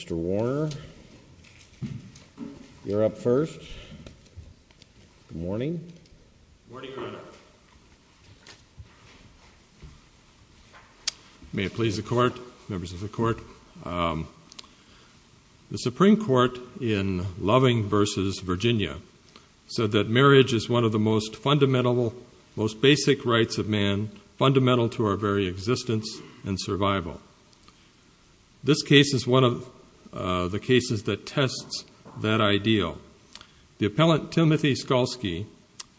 Mr. Warner, you're up first. Good morning. Good morning, Your Honor. May it please the Court, members of the Court. The Supreme Court in Loving v. Virginia said that marriage is one of the most fundamental, most basic rights of man, fundamental to our very existence and survival. This case is one of the cases that tests that ideal. The appellant, Timothy Skalsky,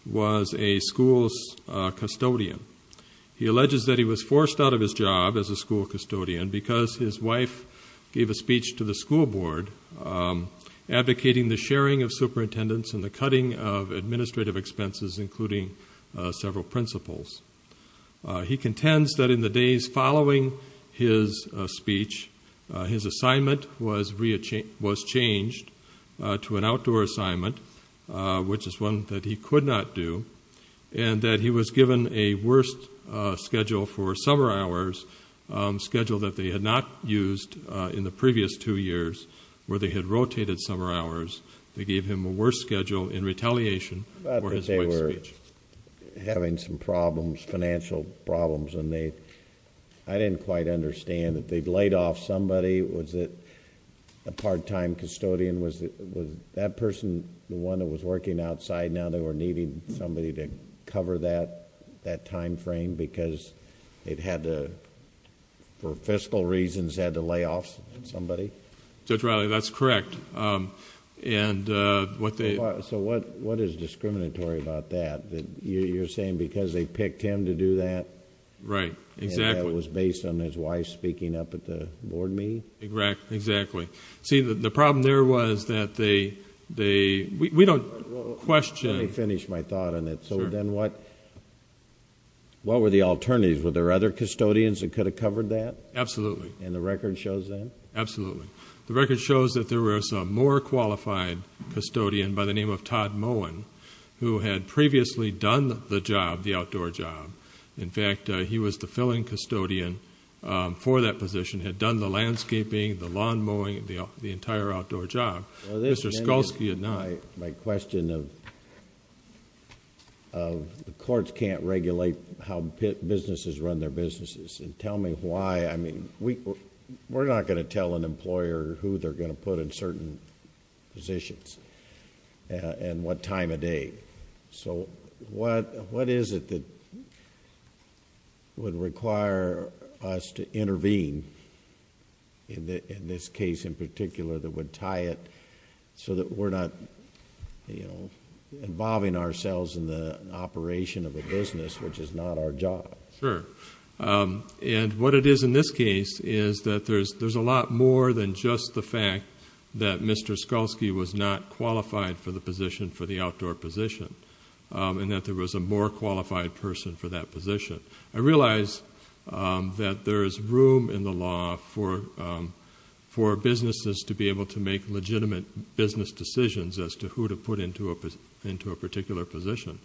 was a school's custodian. He alleges that he was forced out of his job as a school custodian because his wife gave a speech to the school board advocating the sharing of superintendents and the cutting of administrative expenses, including several principals. He contends that in the days following his speech, his assignment was changed to an outdoor assignment, which is one that he could not do, and that he was given a worst schedule for summer hours, schedule that they had not used in the previous two years, where they had rotated summer hours. They gave him a worse schedule in retaliation for his wife's speech. Having some problems, financial problems, I didn't quite understand. If they'd laid off somebody, was it a part-time custodian? Was that person the one that was working outside and now they were needing somebody to cover that time frame because they'd had to, for fiscal reasons, had to lay off somebody? Judge Riley, that's correct. So what is discriminatory about that? You're saying because they picked him to do that? Right, exactly. And that was based on his wife speaking up at the board meeting? Exactly. See, the problem there was that they... we don't question... Let me finish my thought on that. So then what were the alternatives? Were there other custodians that could have covered that? Absolutely. And the record shows that? Absolutely. The record shows that there was a more qualified custodian by the name of Todd Moen who had previously done the job, the outdoor job. In fact, he was the filling custodian for that position, had done the landscaping, the lawn mowing, the entire outdoor job. Mr. Skolsky had not. My question of the courts can't regulate how businesses run their businesses. Tell me why. I mean, we're not going to tell an employer who they're going to put in certain positions and what time of day. So what is it that would require us to intervene in this case in particular that would tie it so that we're not involving ourselves in the operation of a business which is not our job? Sure. And what it is in this case is that there's a lot more than just the fact that Mr. Skolsky was not qualified for the position for the outdoor position and that there was a more qualified person for that position. I realize that there is room in the law for businesses to be able to make legitimate business decisions as to who to put into a particular position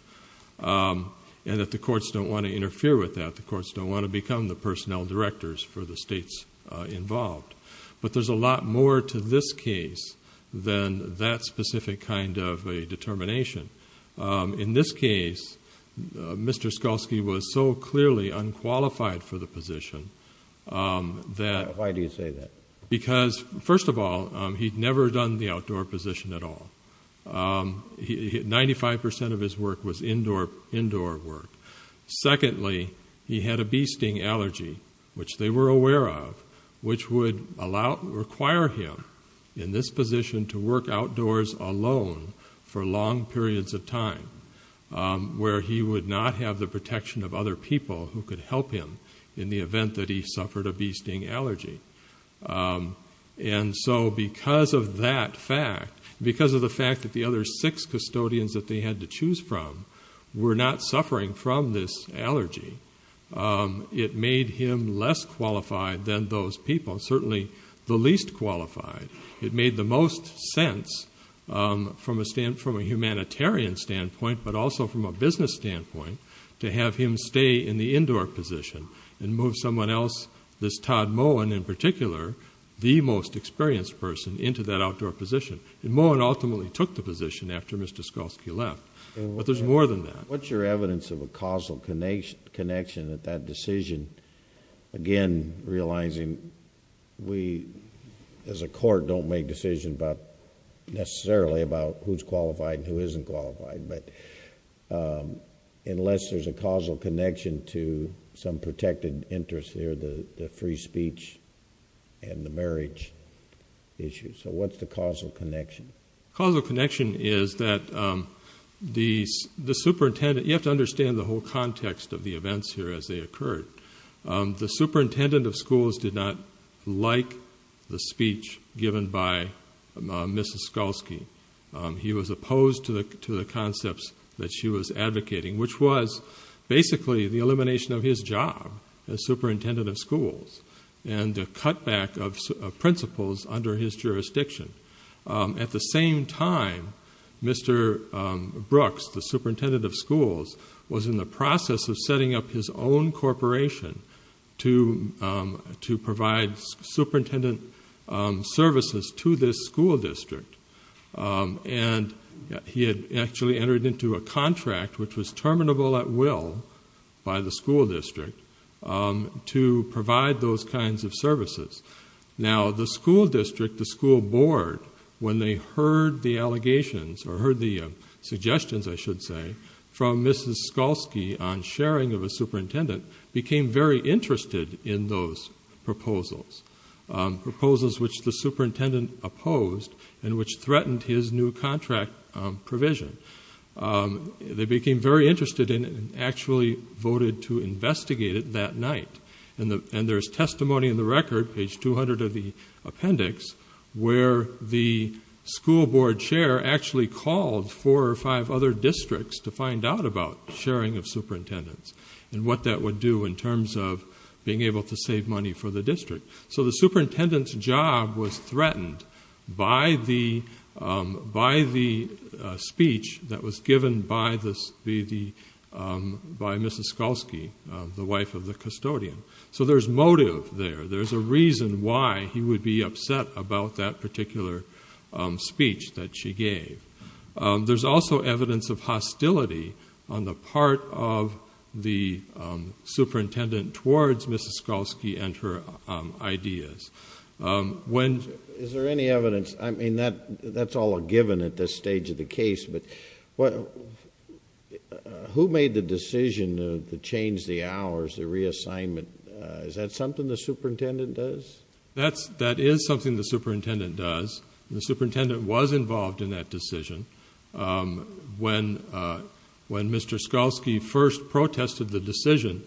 and that the courts don't want to interfere with that. The courts don't want to become the personnel directors for the states involved. But there's a lot more to this case than that specific kind of a determination. In this case, Mr. Skolsky was so clearly unqualified for the position that... Why do you say that? Because, first of all, he'd never done the outdoor position at all. Ninety-five percent of his work was indoor work. Secondly, he had a bee sting allergy, which they were aware of, which would require him in this position to work outdoors alone for long periods of time where he would not have the protection of other people who could help him in the event that he suffered a bee sting allergy. And so because of that fact, because of the fact that the other six custodians that they had to choose from were not suffering from this allergy, it made him less qualified than those people, certainly the least qualified. It made the most sense from a humanitarian standpoint, but also from a business standpoint, to have him stay in the indoor position and move someone else, this Todd Mowen in particular, the most experienced person, into that outdoor position. Mowen ultimately took the position after Mr. Skolsky left, but there's more than that. What's your evidence of a causal connection at that decision? Again, realizing we as a court don't make decisions necessarily about who's qualified and who isn't qualified, but unless there's a causal connection to some protected interest there, the free speech and the marriage issue. So what's the causal connection? The causal connection is that the superintendent, you have to understand the whole context of the events here as they occurred. The superintendent of schools did not like the speech given by Mr. Skolsky. He was opposed to the concepts that she was advocating, which was basically the elimination of his job as superintendent of schools and the cutback of principals under his jurisdiction. At the same time, Mr. Brooks, the superintendent of schools, was in the process of setting up his own corporation to provide superintendent services to this school district. And he had actually entered into a contract, which was terminable at will by the school district, to provide those kinds of services. Now, the school district, the school board, when they heard the allegations, or heard the suggestions, I should say, from Mrs. Skolsky on sharing of a superintendent, became very interested in those proposals, proposals which the superintendent opposed and which threatened his new contract provision. They became very interested in it and actually voted to investigate it that night. And there's testimony in the record, page 200 of the appendix, where the school board chair actually called four or five other districts to find out about sharing of superintendents and what that would do in terms of being able to save money for the district. So the superintendent's job was threatened by the speech that was given by Mrs. Skolsky, the wife of the custodian. So there's motive there. There's a reason why he would be upset about that particular speech that she gave. There's also evidence of hostility on the part of the superintendent towards Mrs. Skolsky and her ideas. Is there any evidence? I mean, that's all a given at this stage of the case, but who made the decision to change the hours, the reassignment? Is that something the superintendent does? That is something the superintendent does. The superintendent was involved in that decision. When Mr. Skolsky first protested the decision,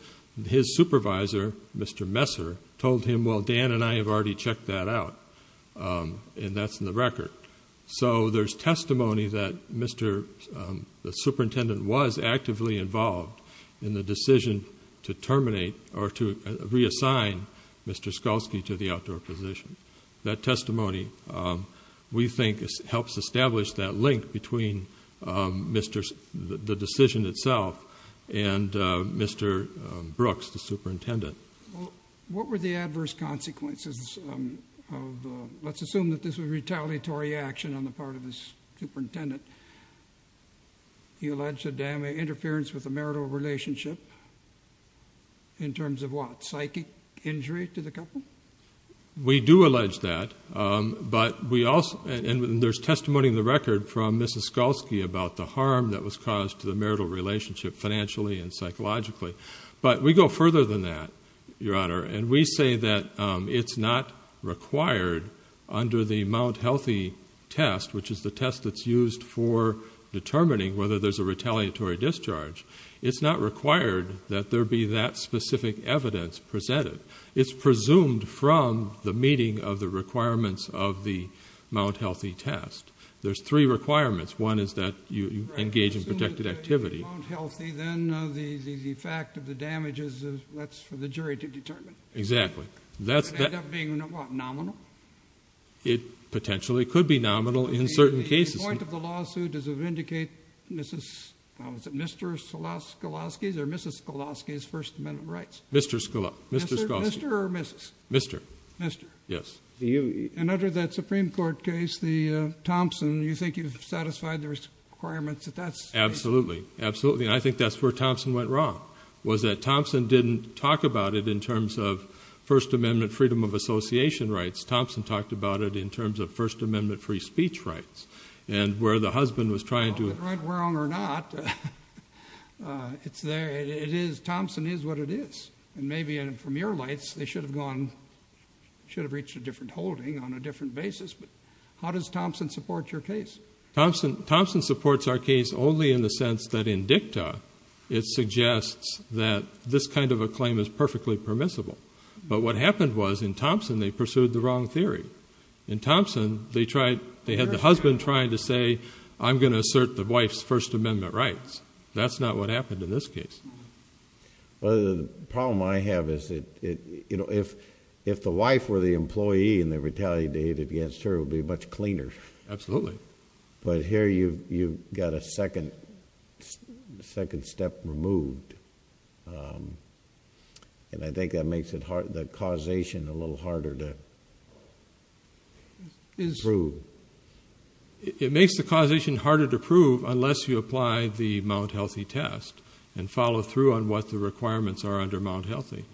his supervisor, Mr. Messer, told him, well, Dan and I have already checked that out, and that's in the record. So there's testimony that the superintendent was actively involved in the decision to terminate or to reassign Mr. Skolsky to the outdoor position. That testimony, we think, helps establish that link between the decision itself and Mr. Brooks, the superintendent. What were the adverse consequences of let's assume that this was retaliatory action on the part of the superintendent? He alleged a damning interference with a marital relationship in terms of what? Psychic injury to the couple? We do allege that, and there's testimony in the record from Mrs. Skolsky about the harm that was caused to the marital relationship financially and psychologically. But we go further than that, Your Honor, and we say that it's not required under the Mount Healthy test, which is the test that's used for determining whether there's a retaliatory discharge. It's not required that there be that specific evidence presented. It's presumed from the meeting of the requirements of the Mount Healthy test. There's three requirements. One is that you engage in protected activity. If Mount Healthy, then the fact of the damages, that's for the jury to determine. Exactly. Would it end up being, what, nominal? It potentially could be nominal in certain cases. The point of the lawsuit is to vindicate Mr. Skolsky's or Mrs. Skolsky's First Amendment rights. Mr. Skolsky. Mr. or Mrs.? Mr. Mr. Yes. And under that Supreme Court case, Thompson, you think you've satisfied the requirements that that's? Absolutely. Absolutely, and I think that's where Thompson went wrong, was that Thompson didn't talk about it in terms of First Amendment freedom of association rights. Thompson talked about it in terms of First Amendment free speech rights, and where the husband was trying to... And maybe from your lights, they should have gone, should have reached a different holding on a different basis, but how does Thompson support your case? Thompson supports our case only in the sense that in dicta, it suggests that this kind of a claim is perfectly permissible, but what happened was in Thompson, they pursued the wrong theory. In Thompson, they had the husband trying to say, I'm going to assert the wife's First Amendment rights. That's not what happened in this case. Well, the problem I have is that if the wife were the employee and they retaliated against her, it would be much cleaner. Absolutely. But here you've got a second step removed, and I think that makes the causation a little harder to prove. It makes the causation harder to prove unless you apply the Mount Healthy test and follow through on what the requirements are under Mount Healthy,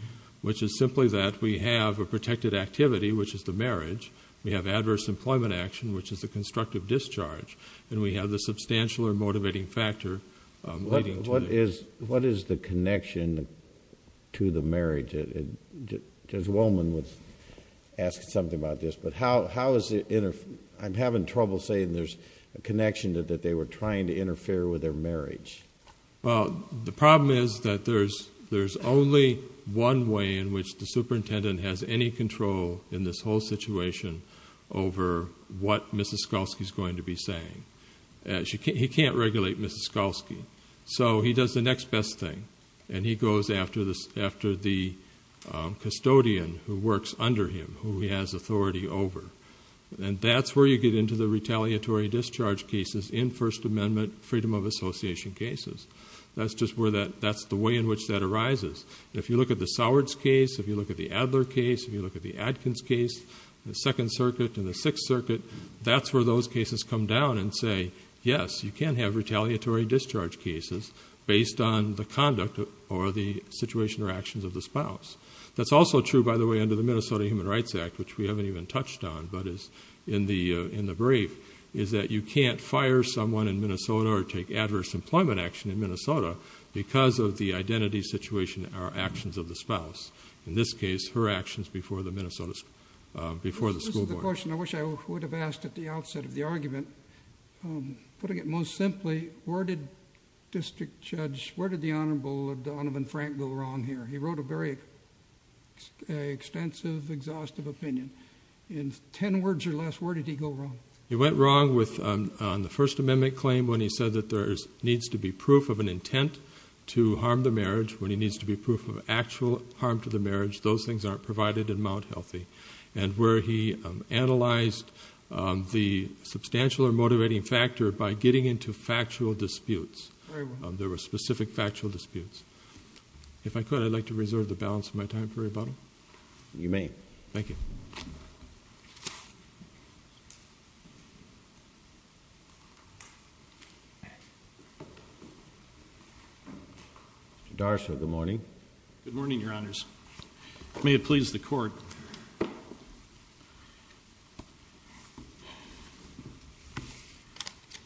which is simply that we have a protected activity, which is the marriage. We have adverse employment action, which is the constructive discharge, and we have the substantial or motivating factor leading to it. What is the connection to the marriage? Judge Wollman asked something about this, but I'm having trouble saying there's a connection that they were trying to interfere with their marriage. Well, the problem is that there's only one way in which the superintendent has any control in this whole situation over what Mrs. Skolsky is going to be saying. He can't regulate Mrs. Skolsky, so he does the next best thing, and he goes after the custodian who works under him, who he has authority over. And that's where you get into the retaliatory discharge cases in First Amendment freedom of association cases. That's the way in which that arises. If you look at the Sowards case, if you look at the Adler case, if you look at the Adkins case, the Second Circuit and the Sixth Circuit, that's where those cases come down and say, yes, you can have retaliatory discharge cases based on the conduct or the situation or actions of the spouse. That's also true, by the way, under the Minnesota Human Rights Act, which we haven't even touched on but is in the brief, is that you can't fire someone in Minnesota or take adverse employment action in Minnesota because of the identity situation or actions of the spouse. In this case, her actions before the school board. This is the question I wish I would have asked at the outset of the argument. Putting it most simply, where did the Honorable Donovan Frank go wrong here? He wrote a very extensive, exhaustive opinion. In ten words or less, where did he go wrong? He went wrong on the First Amendment claim when he said that there needs to be proof of an intent to harm the marriage. When he needs to be proof of actual harm to the marriage, those things aren't provided in Mount Healthy. And where he analyzed the substantial or motivating factor by getting into factual disputes. There were specific factual disputes. If I could, I'd like to reserve the balance of my time for rebuttal. You may. Thank you. Mr. D'Arcy, good morning. Good morning, Your Honors. May it please the Court. I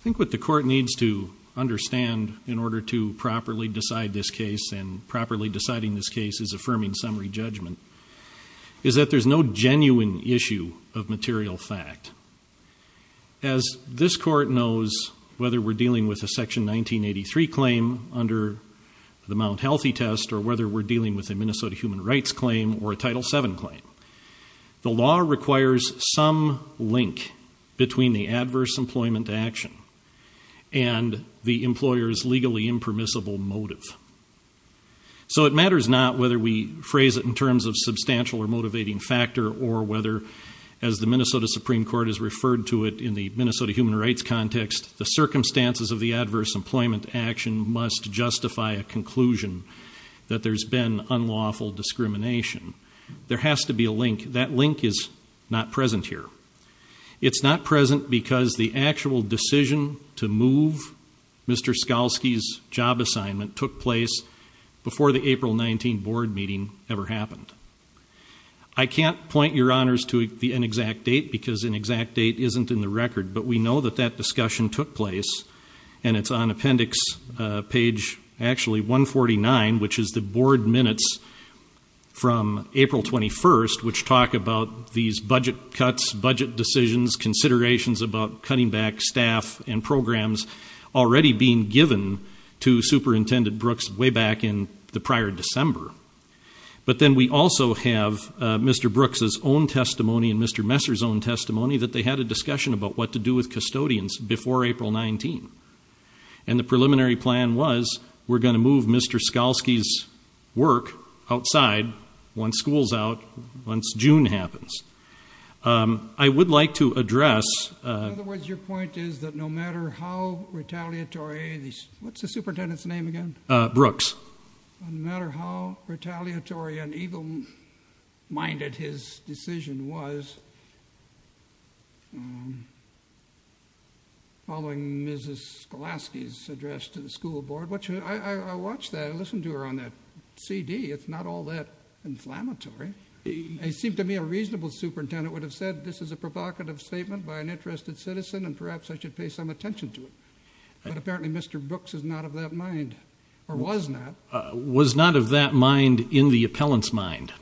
think what the Court needs to understand in order to properly decide this case and properly deciding this case is affirming summary judgment, is that there's no genuine issue of material fact. As this Court knows, whether we're dealing with a Section 1983 claim under the Mount Healthy test or whether we're dealing with a Minnesota Human Rights claim or a Title VII claim, the law requires some link between the adverse employment action and the employer's legally impermissible motive. So it matters not whether we phrase it in terms of substantial or motivating factor or whether, as the Minnesota Supreme Court has referred to it in the Minnesota Human Rights context, the circumstances of the adverse employment action must justify a conclusion that there's been unlawful discrimination. There has to be a link. That link is not present here. It's not present because the actual decision to move Mr. Skalsky's job assignment took place before the April 19 board meeting ever happened. I can't point Your Honors to an exact date because an exact date isn't in the record, but we know that that discussion took place, and it's on appendix page 149, which is the board minutes from April 21st, which talk about these budget cuts, budget decisions, considerations about cutting back staff and programs already being given to Superintendent Brooks way back in the prior December. But then we also have Mr. Brooks's own testimony and Mr. Messer's own testimony that they had a discussion about what to do with custodians before April 19, and the preliminary plan was we're going to move Mr. Skalsky's work outside once school's out, once June happens. I would like to address... In other words, your point is that no matter how retaliatory, what's the superintendent's name again? Brooks. No matter how retaliatory and evil-minded his decision was, following Mrs. Skalsky's address to the school board, I watched that, I listened to her on that CD. It's not all that inflammatory. It seemed to me a reasonable superintendent would have said, this is a provocative statement by an interested citizen, and perhaps I should pay some attention to it. But apparently Mr. Brooks is not of that mind, or was not. Was not of that mind in the appellant's mind,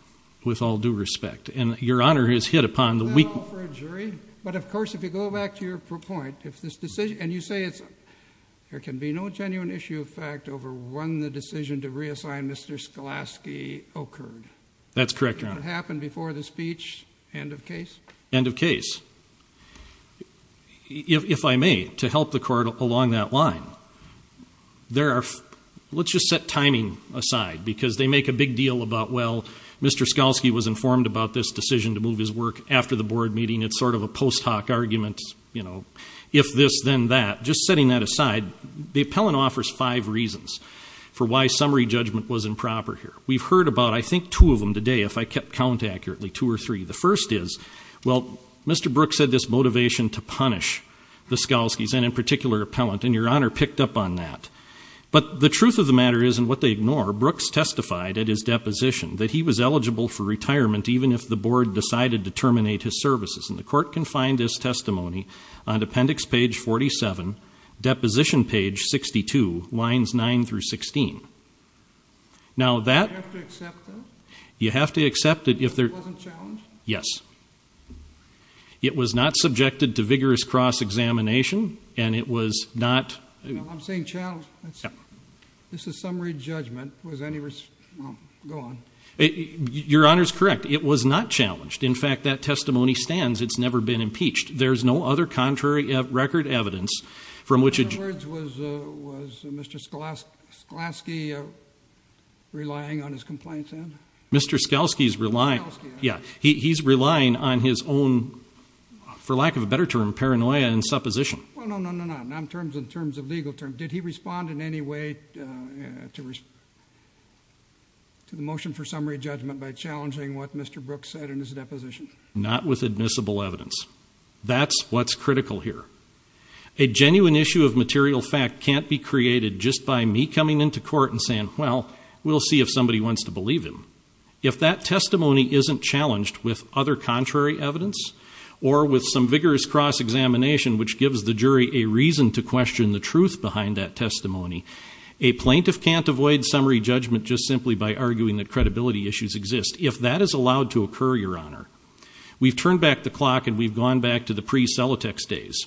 with all due respect. And your Honor has hit upon the weak... Is that all for a jury? But, of course, if you go back to your point, if this decision... And you say there can be no genuine issue of fact over when the decision to reassign Mr. Skalsky occurred. That's correct, Your Honor. Did it happen before the speech, end of case? End of case. If I may, to help the Court along that line, let's just set timing aside, because they make a big deal about, well, Mr. Skalsky was informed about this decision to move his work after the board meeting. It's sort of a post hoc argument. It's, you know, if this, then that. Just setting that aside, the appellant offers five reasons for why summary judgment was improper here. We've heard about, I think, two of them today, if I kept count accurately, two or three. The first is, well, Mr. Brooks had this motivation to punish the Skalskys, and in particular, the appellant. And your Honor picked up on that. But the truth of the matter is, and what they ignore, Brooks testified at his deposition that he was eligible for retirement even if the board decided to terminate his services. And the Court can find this testimony on Appendix Page 47, Deposition Page 62, Lines 9 through 16. Now that. Do I have to accept that? You have to accept it if there. It wasn't challenged? Yes. It was not subjected to vigorous cross-examination, and it was not. I'm saying challenged. This is summary judgment. Was any, well, go on. Your Honor's correct. It was not challenged. In fact, that testimony stands. It's never been impeached. There's no other contrary record evidence from which. In other words, was Mr. Skalsky relying on his complaints then? Mr. Skalsky's relying. Skalsky. Yeah. He's relying on his own, for lack of a better term, paranoia and supposition. Well, no, no, no, no. Not in terms of legal terms. Did he respond in any way to the motion for summary judgment by challenging what Mr. Brooks said in his deposition? Not with admissible evidence. That's what's critical here. A genuine issue of material fact can't be created just by me coming into court and saying, well, we'll see if somebody wants to believe him. If that testimony isn't challenged with other contrary evidence or with some vigorous cross-examination which gives the jury a reason to question the truth behind that testimony, a plaintiff can't avoid summary judgment just simply by arguing that credibility issues exist. If that is allowed to occur, Your Honor, we've turned back the clock and we've gone back to the pre-Celotex days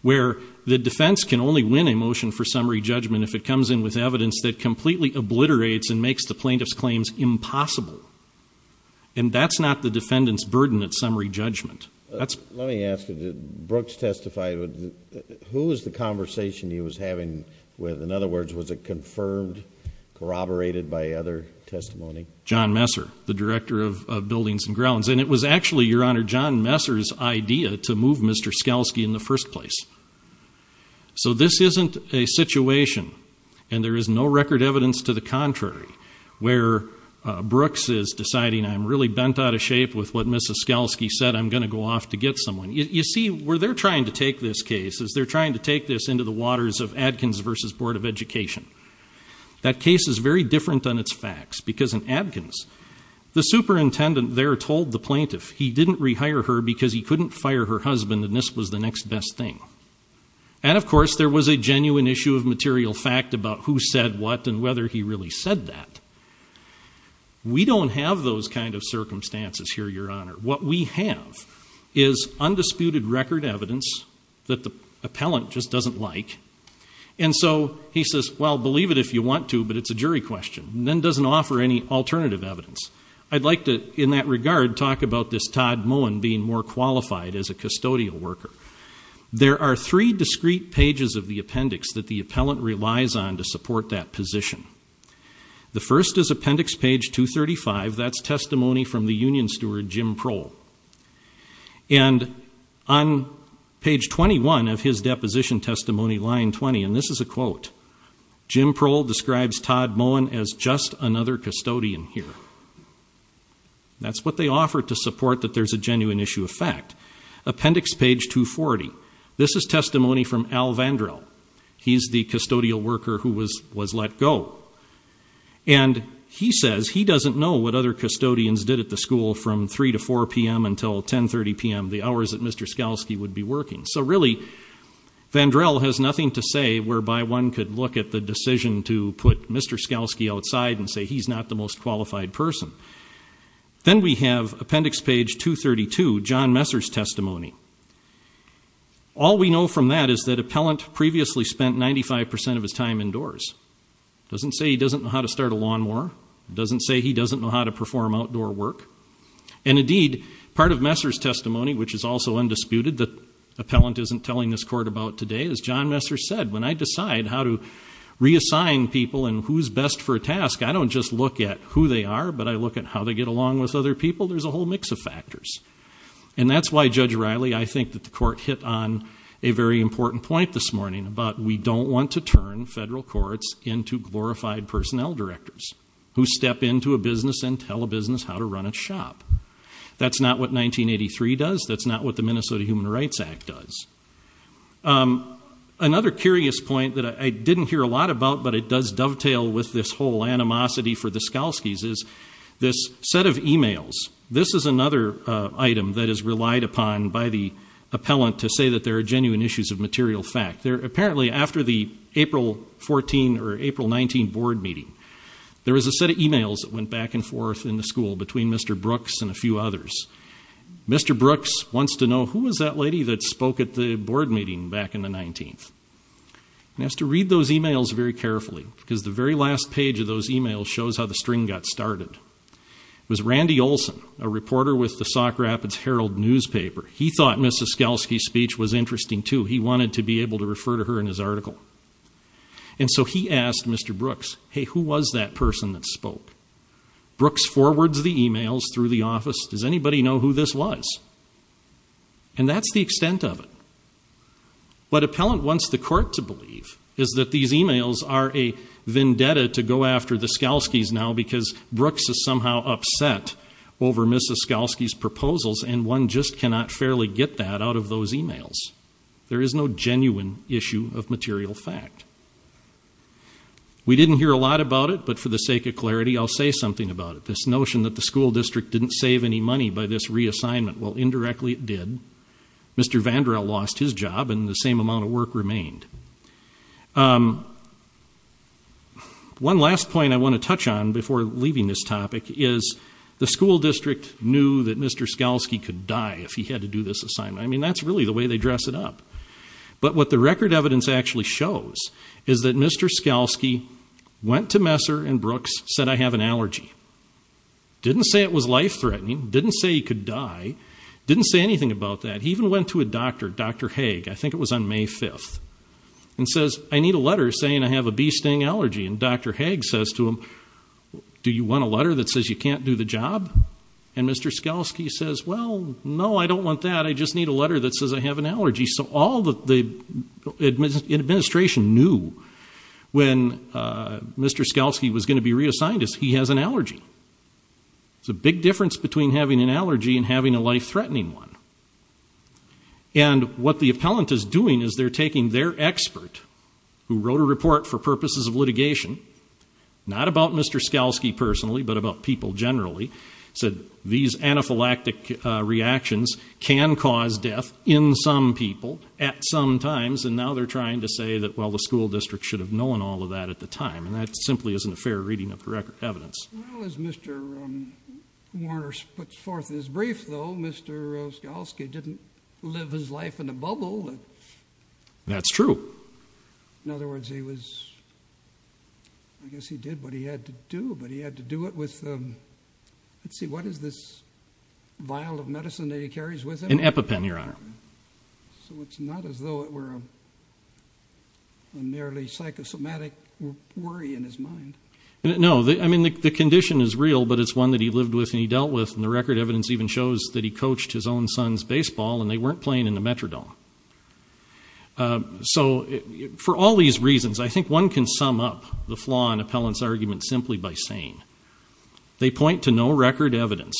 where the defense can only win a motion for summary judgment if it comes in with evidence that completely obliterates and makes the plaintiff's claims impossible. And that's not the defendant's burden at summary judgment. Let me ask you, did Brooks testify? Who was the conversation he was having with? In other words, was it confirmed, corroborated by other testimony? John Messer, the Director of Buildings and Grounds. And it was actually, Your Honor, John Messer's idea to move Mr. Skalsky in the first place. So this isn't a situation, and there is no record evidence to the contrary, where Brooks is deciding, I'm really bent out of shape with what Ms. Skalsky said, I'm going to go off to get someone. You see, where they're trying to take this case is they're trying to take this into the waters of Adkins v. Board of Education. That case is very different on its facts, because in Adkins, the superintendent there told the plaintiff he didn't rehire her because he couldn't fire her husband and this was the next best thing. And, of course, there was a genuine issue of material fact about who said what and whether he really said that. We don't have those kind of circumstances here, Your Honor. What we have is undisputed record evidence that the appellant just doesn't like, and so he says, well, believe it if you want to, but it's a jury question, and then doesn't offer any alternative evidence. I'd like to, in that regard, talk about this Todd Moen being more qualified as a custodial worker. There are three discrete pages of the appendix that the appellant relies on to support that position. The first is appendix page 235. That's testimony from the union steward, Jim Prohl. And on page 21 of his deposition testimony, line 20, and this is a quote, Jim Prohl describes Todd Moen as just another custodian here. That's what they offer to support that there's a genuine issue of fact. Appendix page 240, this is testimony from Al Vandrill. He's the custodial worker who was let go. And he says he doesn't know what other custodians did at the school from 3 to 4 p.m. until 10.30 p.m., the hours that Mr. Skalsky would be working. So really, Vandrill has nothing to say whereby one could look at the decision to put Mr. Skalsky outside and say he's not the most qualified person. Then we have appendix page 232, John Messer's testimony. All we know from that is that appellant previously spent 95% of his time indoors. It doesn't say he doesn't know how to start a lawnmower. It doesn't say he doesn't know how to perform outdoor work. And indeed, part of Messer's testimony, which is also undisputed, that appellant isn't telling this court about today, is John Messer said, when I decide how to reassign people and who's best for a task, I don't just look at who they are, but I look at how they get along with other people. There's a whole mix of factors. And that's why, Judge Riley, I think that the court hit on a very important point this morning about we don't want to turn federal courts into glorified personnel directors who step into a business and tell a business how to run its shop. That's not what 1983 does. That's not what the Minnesota Human Rights Act does. Another curious point that I didn't hear a lot about, but it does dovetail with this whole animosity for the Skalskys is this set of e-mails. This is another item that is relied upon by the appellant to say that there are genuine issues of material fact. Apparently, after the April 14 or April 19 board meeting, there was a set of e-mails that went back and forth in the school between Mr. Brooks and a few others. Mr. Brooks wants to know who was that lady that spoke at the board meeting back in the 19th. He has to read those e-mails very carefully because the very last page of those e-mails shows how the string got started. It was Randy Olson, a reporter with the Sauk Rapids Herald newspaper. He thought Ms. Skalsky's speech was interesting, too. He wanted to be able to refer to her in his article. And so he asked Mr. Brooks, hey, who was that person that spoke? Brooks forwards the e-mails through the office. Does anybody know who this was? And that's the extent of it. What appellant wants the court to believe is that these e-mails are a vendetta to go after the Skalskys now because Brooks is somehow upset over Ms. Skalsky's proposals, and one just cannot fairly get that out of those e-mails. There is no genuine issue of material fact. We didn't hear a lot about it, but for the sake of clarity, I'll say something about it. This notion that the school district didn't save any money by this reassignment, well, indirectly it did. Mr. Vandrell lost his job and the same amount of work remained. One last point I want to touch on before leaving this topic is the school district knew that Mr. Skalsky could die if he had to do this assignment. I mean, that's really the way they dress it up. But what the record evidence actually shows is that Mr. Skalsky went to Messer and Brooks, said, I have an allergy. Didn't say it was life-threatening, didn't say he could die, didn't say anything about that. He even went to a doctor, Dr. Haig, I think it was on May 5th, and says, I need a letter saying I have a bee sting allergy. And Dr. Haig says to him, do you want a letter that says you can't do the job? And Mr. Skalsky says, well, no, I don't want that. I just need a letter that says I have an allergy. So all the administration knew when Mr. Skalsky was going to be reassigned is he has an allergy. It's a big difference between having an allergy and having a life-threatening one. And what the appellant is doing is they're taking their expert, who wrote a report for purposes of litigation, not about Mr. Skalsky personally, but about people generally, said these anaphylactic reactions can cause death in some people at some times, and now they're trying to say that, well, the school district should have known all of that at the time. And that simply isn't a fair reading of the evidence. Well, as Mr. Warner puts forth in his brief, though, Mr. Skalsky didn't live his life in a bubble. That's true. In other words, I guess he did what he had to do, but he had to do it with, let's see, what is this vial of medicine that he carries with him? An EpiPen, Your Honor. So it's not as though it were a merely psychosomatic worry in his mind. No, I mean, the condition is real, but it's one that he lived with and he dealt with, and the record evidence even shows that he coached his own son's baseball, and they weren't playing in the Metrodome. So for all these reasons, I think one can sum up the flaw in Appellant's argument simply by saying they point to no record evidence,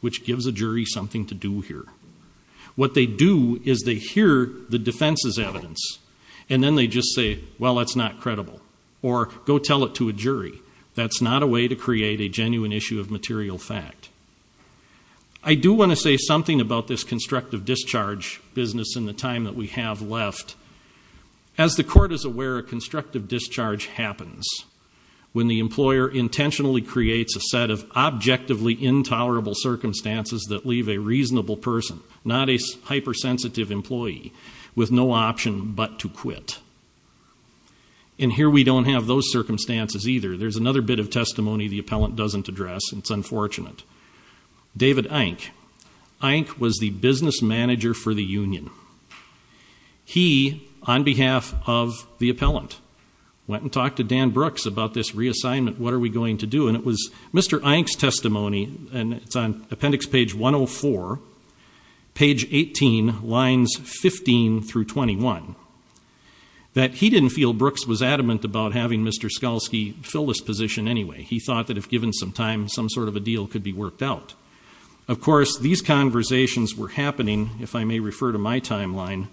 which gives a jury something to do here. What they do is they hear the defense's evidence, and then they just say, well, that's not credible, or go tell it to a jury. That's not a way to create a genuine issue of material fact. I do want to say something about this constructive discharge business in the time that we have left. As the Court is aware, a constructive discharge happens when the employer intentionally creates a set of objectively intolerable circumstances that leave a reasonable person, not a hypersensitive employee, with no option but to quit. And here we don't have those circumstances either. There's another bit of testimony the Appellant doesn't address, and it's unfortunate. David Eink. Eink was the business manager for the union. He, on behalf of the Appellant, went and talked to Dan Brooks about this reassignment, what are we going to do, and it was Mr. Eink's testimony, and it's on appendix page 104, page 18, lines 15 through 21, that he didn't feel Brooks was adamant about having Mr. Skalsky fill this position anyway. He thought that if given some time, some sort of a deal could be worked out. Of course, these conversations were happening, if I may refer to my timeline,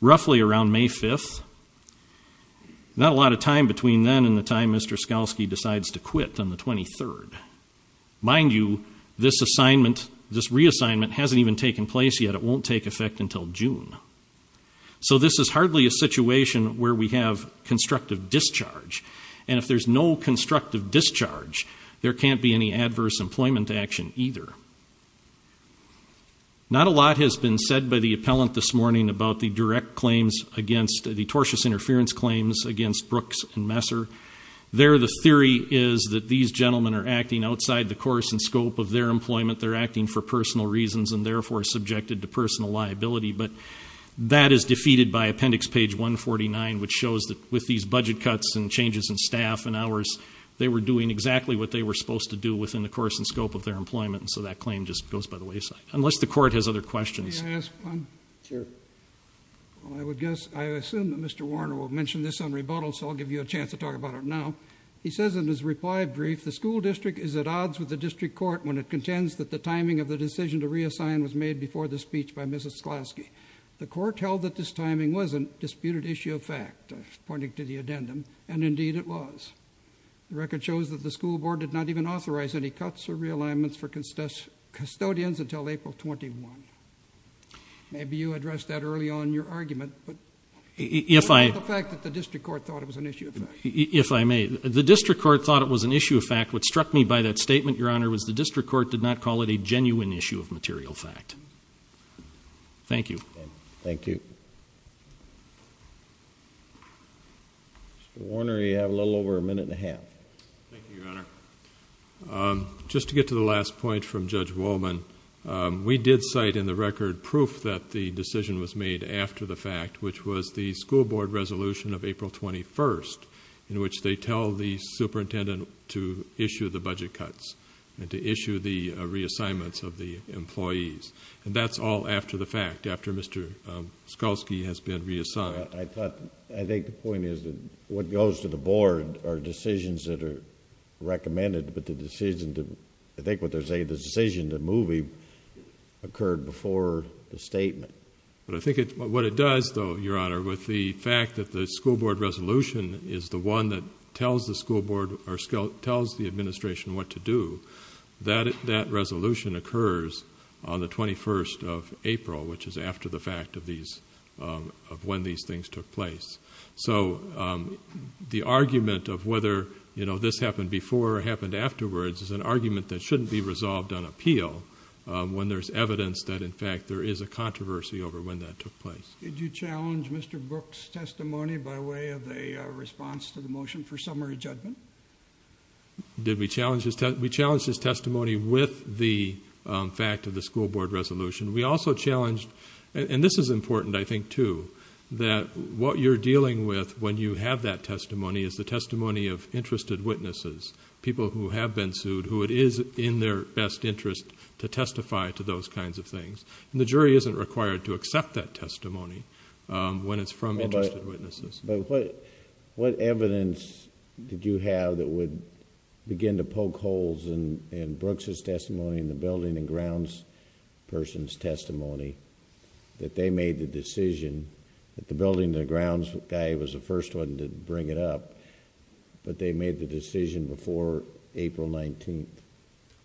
roughly around May 5th, not a lot of time between then and the time Mr. Skalsky decides to quit on the 23rd. Mind you, this reassignment hasn't even taken place yet. It won't take effect until June. So this is hardly a situation where we have constructive discharge, and if there's no constructive discharge, there can't be any adverse employment action either. Not a lot has been said by the Appellant this morning about the direct claims against, the tortious interference claims against Brooks and Messer. There the theory is that these gentlemen are acting outside the course and scope of their employment. They're acting for personal reasons and therefore subjected to personal liability, but that is defeated by Appendix Page 149, which shows that with these budget cuts and changes in staff and hours, they were doing exactly what they were supposed to do within the course and scope of their employment, and so that claim just goes by the wayside, unless the Court has other questions. May I ask one? Sure. Well, I would guess, I assume that Mr. Warner will mention this on rebuttal, so I'll give you a chance to talk about it now. He says in his reply brief, the school district is at odds with the district court when it contends that the timing of the decision to reassign was made before the speech by Mrs. Sklasky. The court held that this timing was a disputed issue of fact, pointing to the addendum, and indeed it was. The record shows that the school board did not even authorize any cuts or realignments for custodians until April 21. Maybe you addressed that early on in your argument, but the fact that the district court thought it was an issue of fact. If I may, the district court thought it was an issue of fact. What struck me by that statement, Your Honor, was the district court did not call it a genuine issue of material fact. Thank you. Thank you. Mr. Warner, you have a little over a minute and a half. Thank you, Your Honor. Just to get to the last point from Judge Wolman, we did cite in the record proof that the decision was made after the fact, which was the school board resolution of April 21, in which they tell the superintendent to issue the budget cuts and to issue the reassignments of the employees. And that's all after the fact, after Mr. Sklasky has been reassigned. I think the point is that what goes to the board are decisions that are recommended, but the decision to, I think what they're saying, the decision to move occurred before the statement. But I think what it does, though, Your Honor, with the fact that the school board resolution is the one that tells the school board or tells the administration what to do, that resolution occurs on the 21st of April, which is after the fact of when these things took place. So the argument of whether this happened before or happened afterwards is an argument that shouldn't be resolved on appeal when there's evidence that, in fact, there is a controversy over when that took place. Did you challenge Mr. Brooks' testimony by way of a response to the motion for summary judgment? Did we challenge his testimony? We challenged his testimony with the fact of the school board resolution. We also challenged... and this is important, I think, too, that what you're dealing with when you have that testimony is the testimony of interested witnesses, people who have been sued, who it is in their best interest to testify to those kinds of things. And the jury isn't required to accept that testimony when it's from interested witnesses. But what evidence did you have that would begin to poke holes in Brooks' testimony and the building and grounds person's testimony that they made the decision that the building and the grounds guy was the first one to bring it up, but they made the decision before April 19th?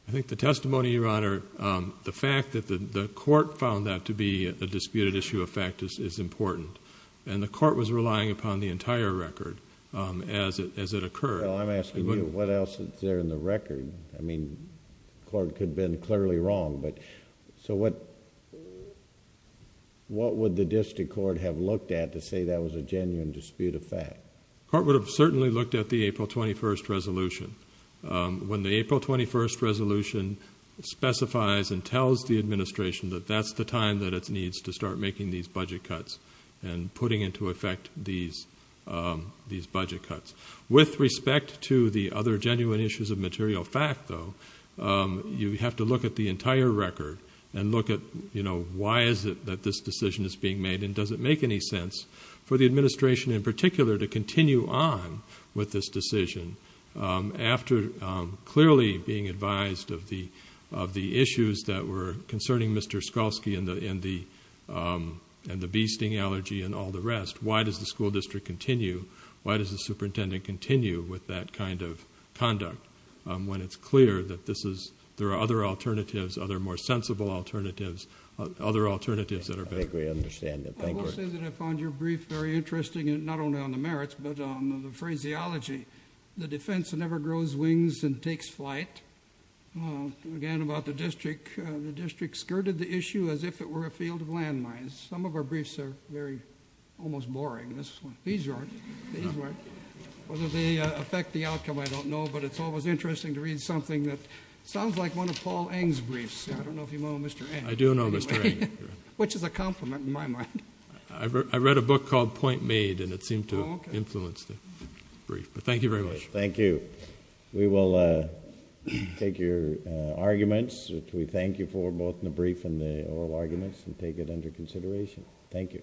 I think the testimony, Your Honor, the fact that the court found that to be a disputed issue of fact is important. And the court was relying upon the entire record as it occurred. Well, I'm asking you, what else is there in the record? I mean, the court could have been clearly wrong, but... So what would the district court have looked at to say that was a genuine dispute of fact? The court would have certainly looked at the April 21st resolution. When the April 21st resolution specifies and tells the administration that that's the time that it needs to start making these budget cuts and putting into effect these budget cuts. With respect to the other genuine issues of material fact, though, you have to look at the entire record and look at, you know, why is it that this decision is being made and does it make any sense for the administration in particular to continue on with this decision after clearly being advised of the issues that were concerning Mr. Skolski and the bee sting allergy and all the rest? Why does the school district continue? Why does the superintendent continue with that kind of conduct when it's clear that this is... there are other alternatives, other more sensible alternatives, other alternatives that are... I agree. I understand that. Thank you. I will say that I found your brief very interesting, not only on the merits, but on the phraseology. The defense never grows wings and takes flight. Again, about the district, the district skirted the issue as if it were a field of landmines. Some of our briefs are very... almost boring. These aren't. These weren't. Whether they affect the outcome, I don't know. But it's always interesting to read something that sounds like one of Paul Eng's briefs. I don't know if you know Mr. Eng. I do know Mr. Eng. Which is a compliment in my mind. I read a book called Point Made and it seemed to influence the brief. Thank you very much. Thank you. We will take your arguments, which we thank you for, both in the brief and the oral arguments, and take it under consideration. Thank you.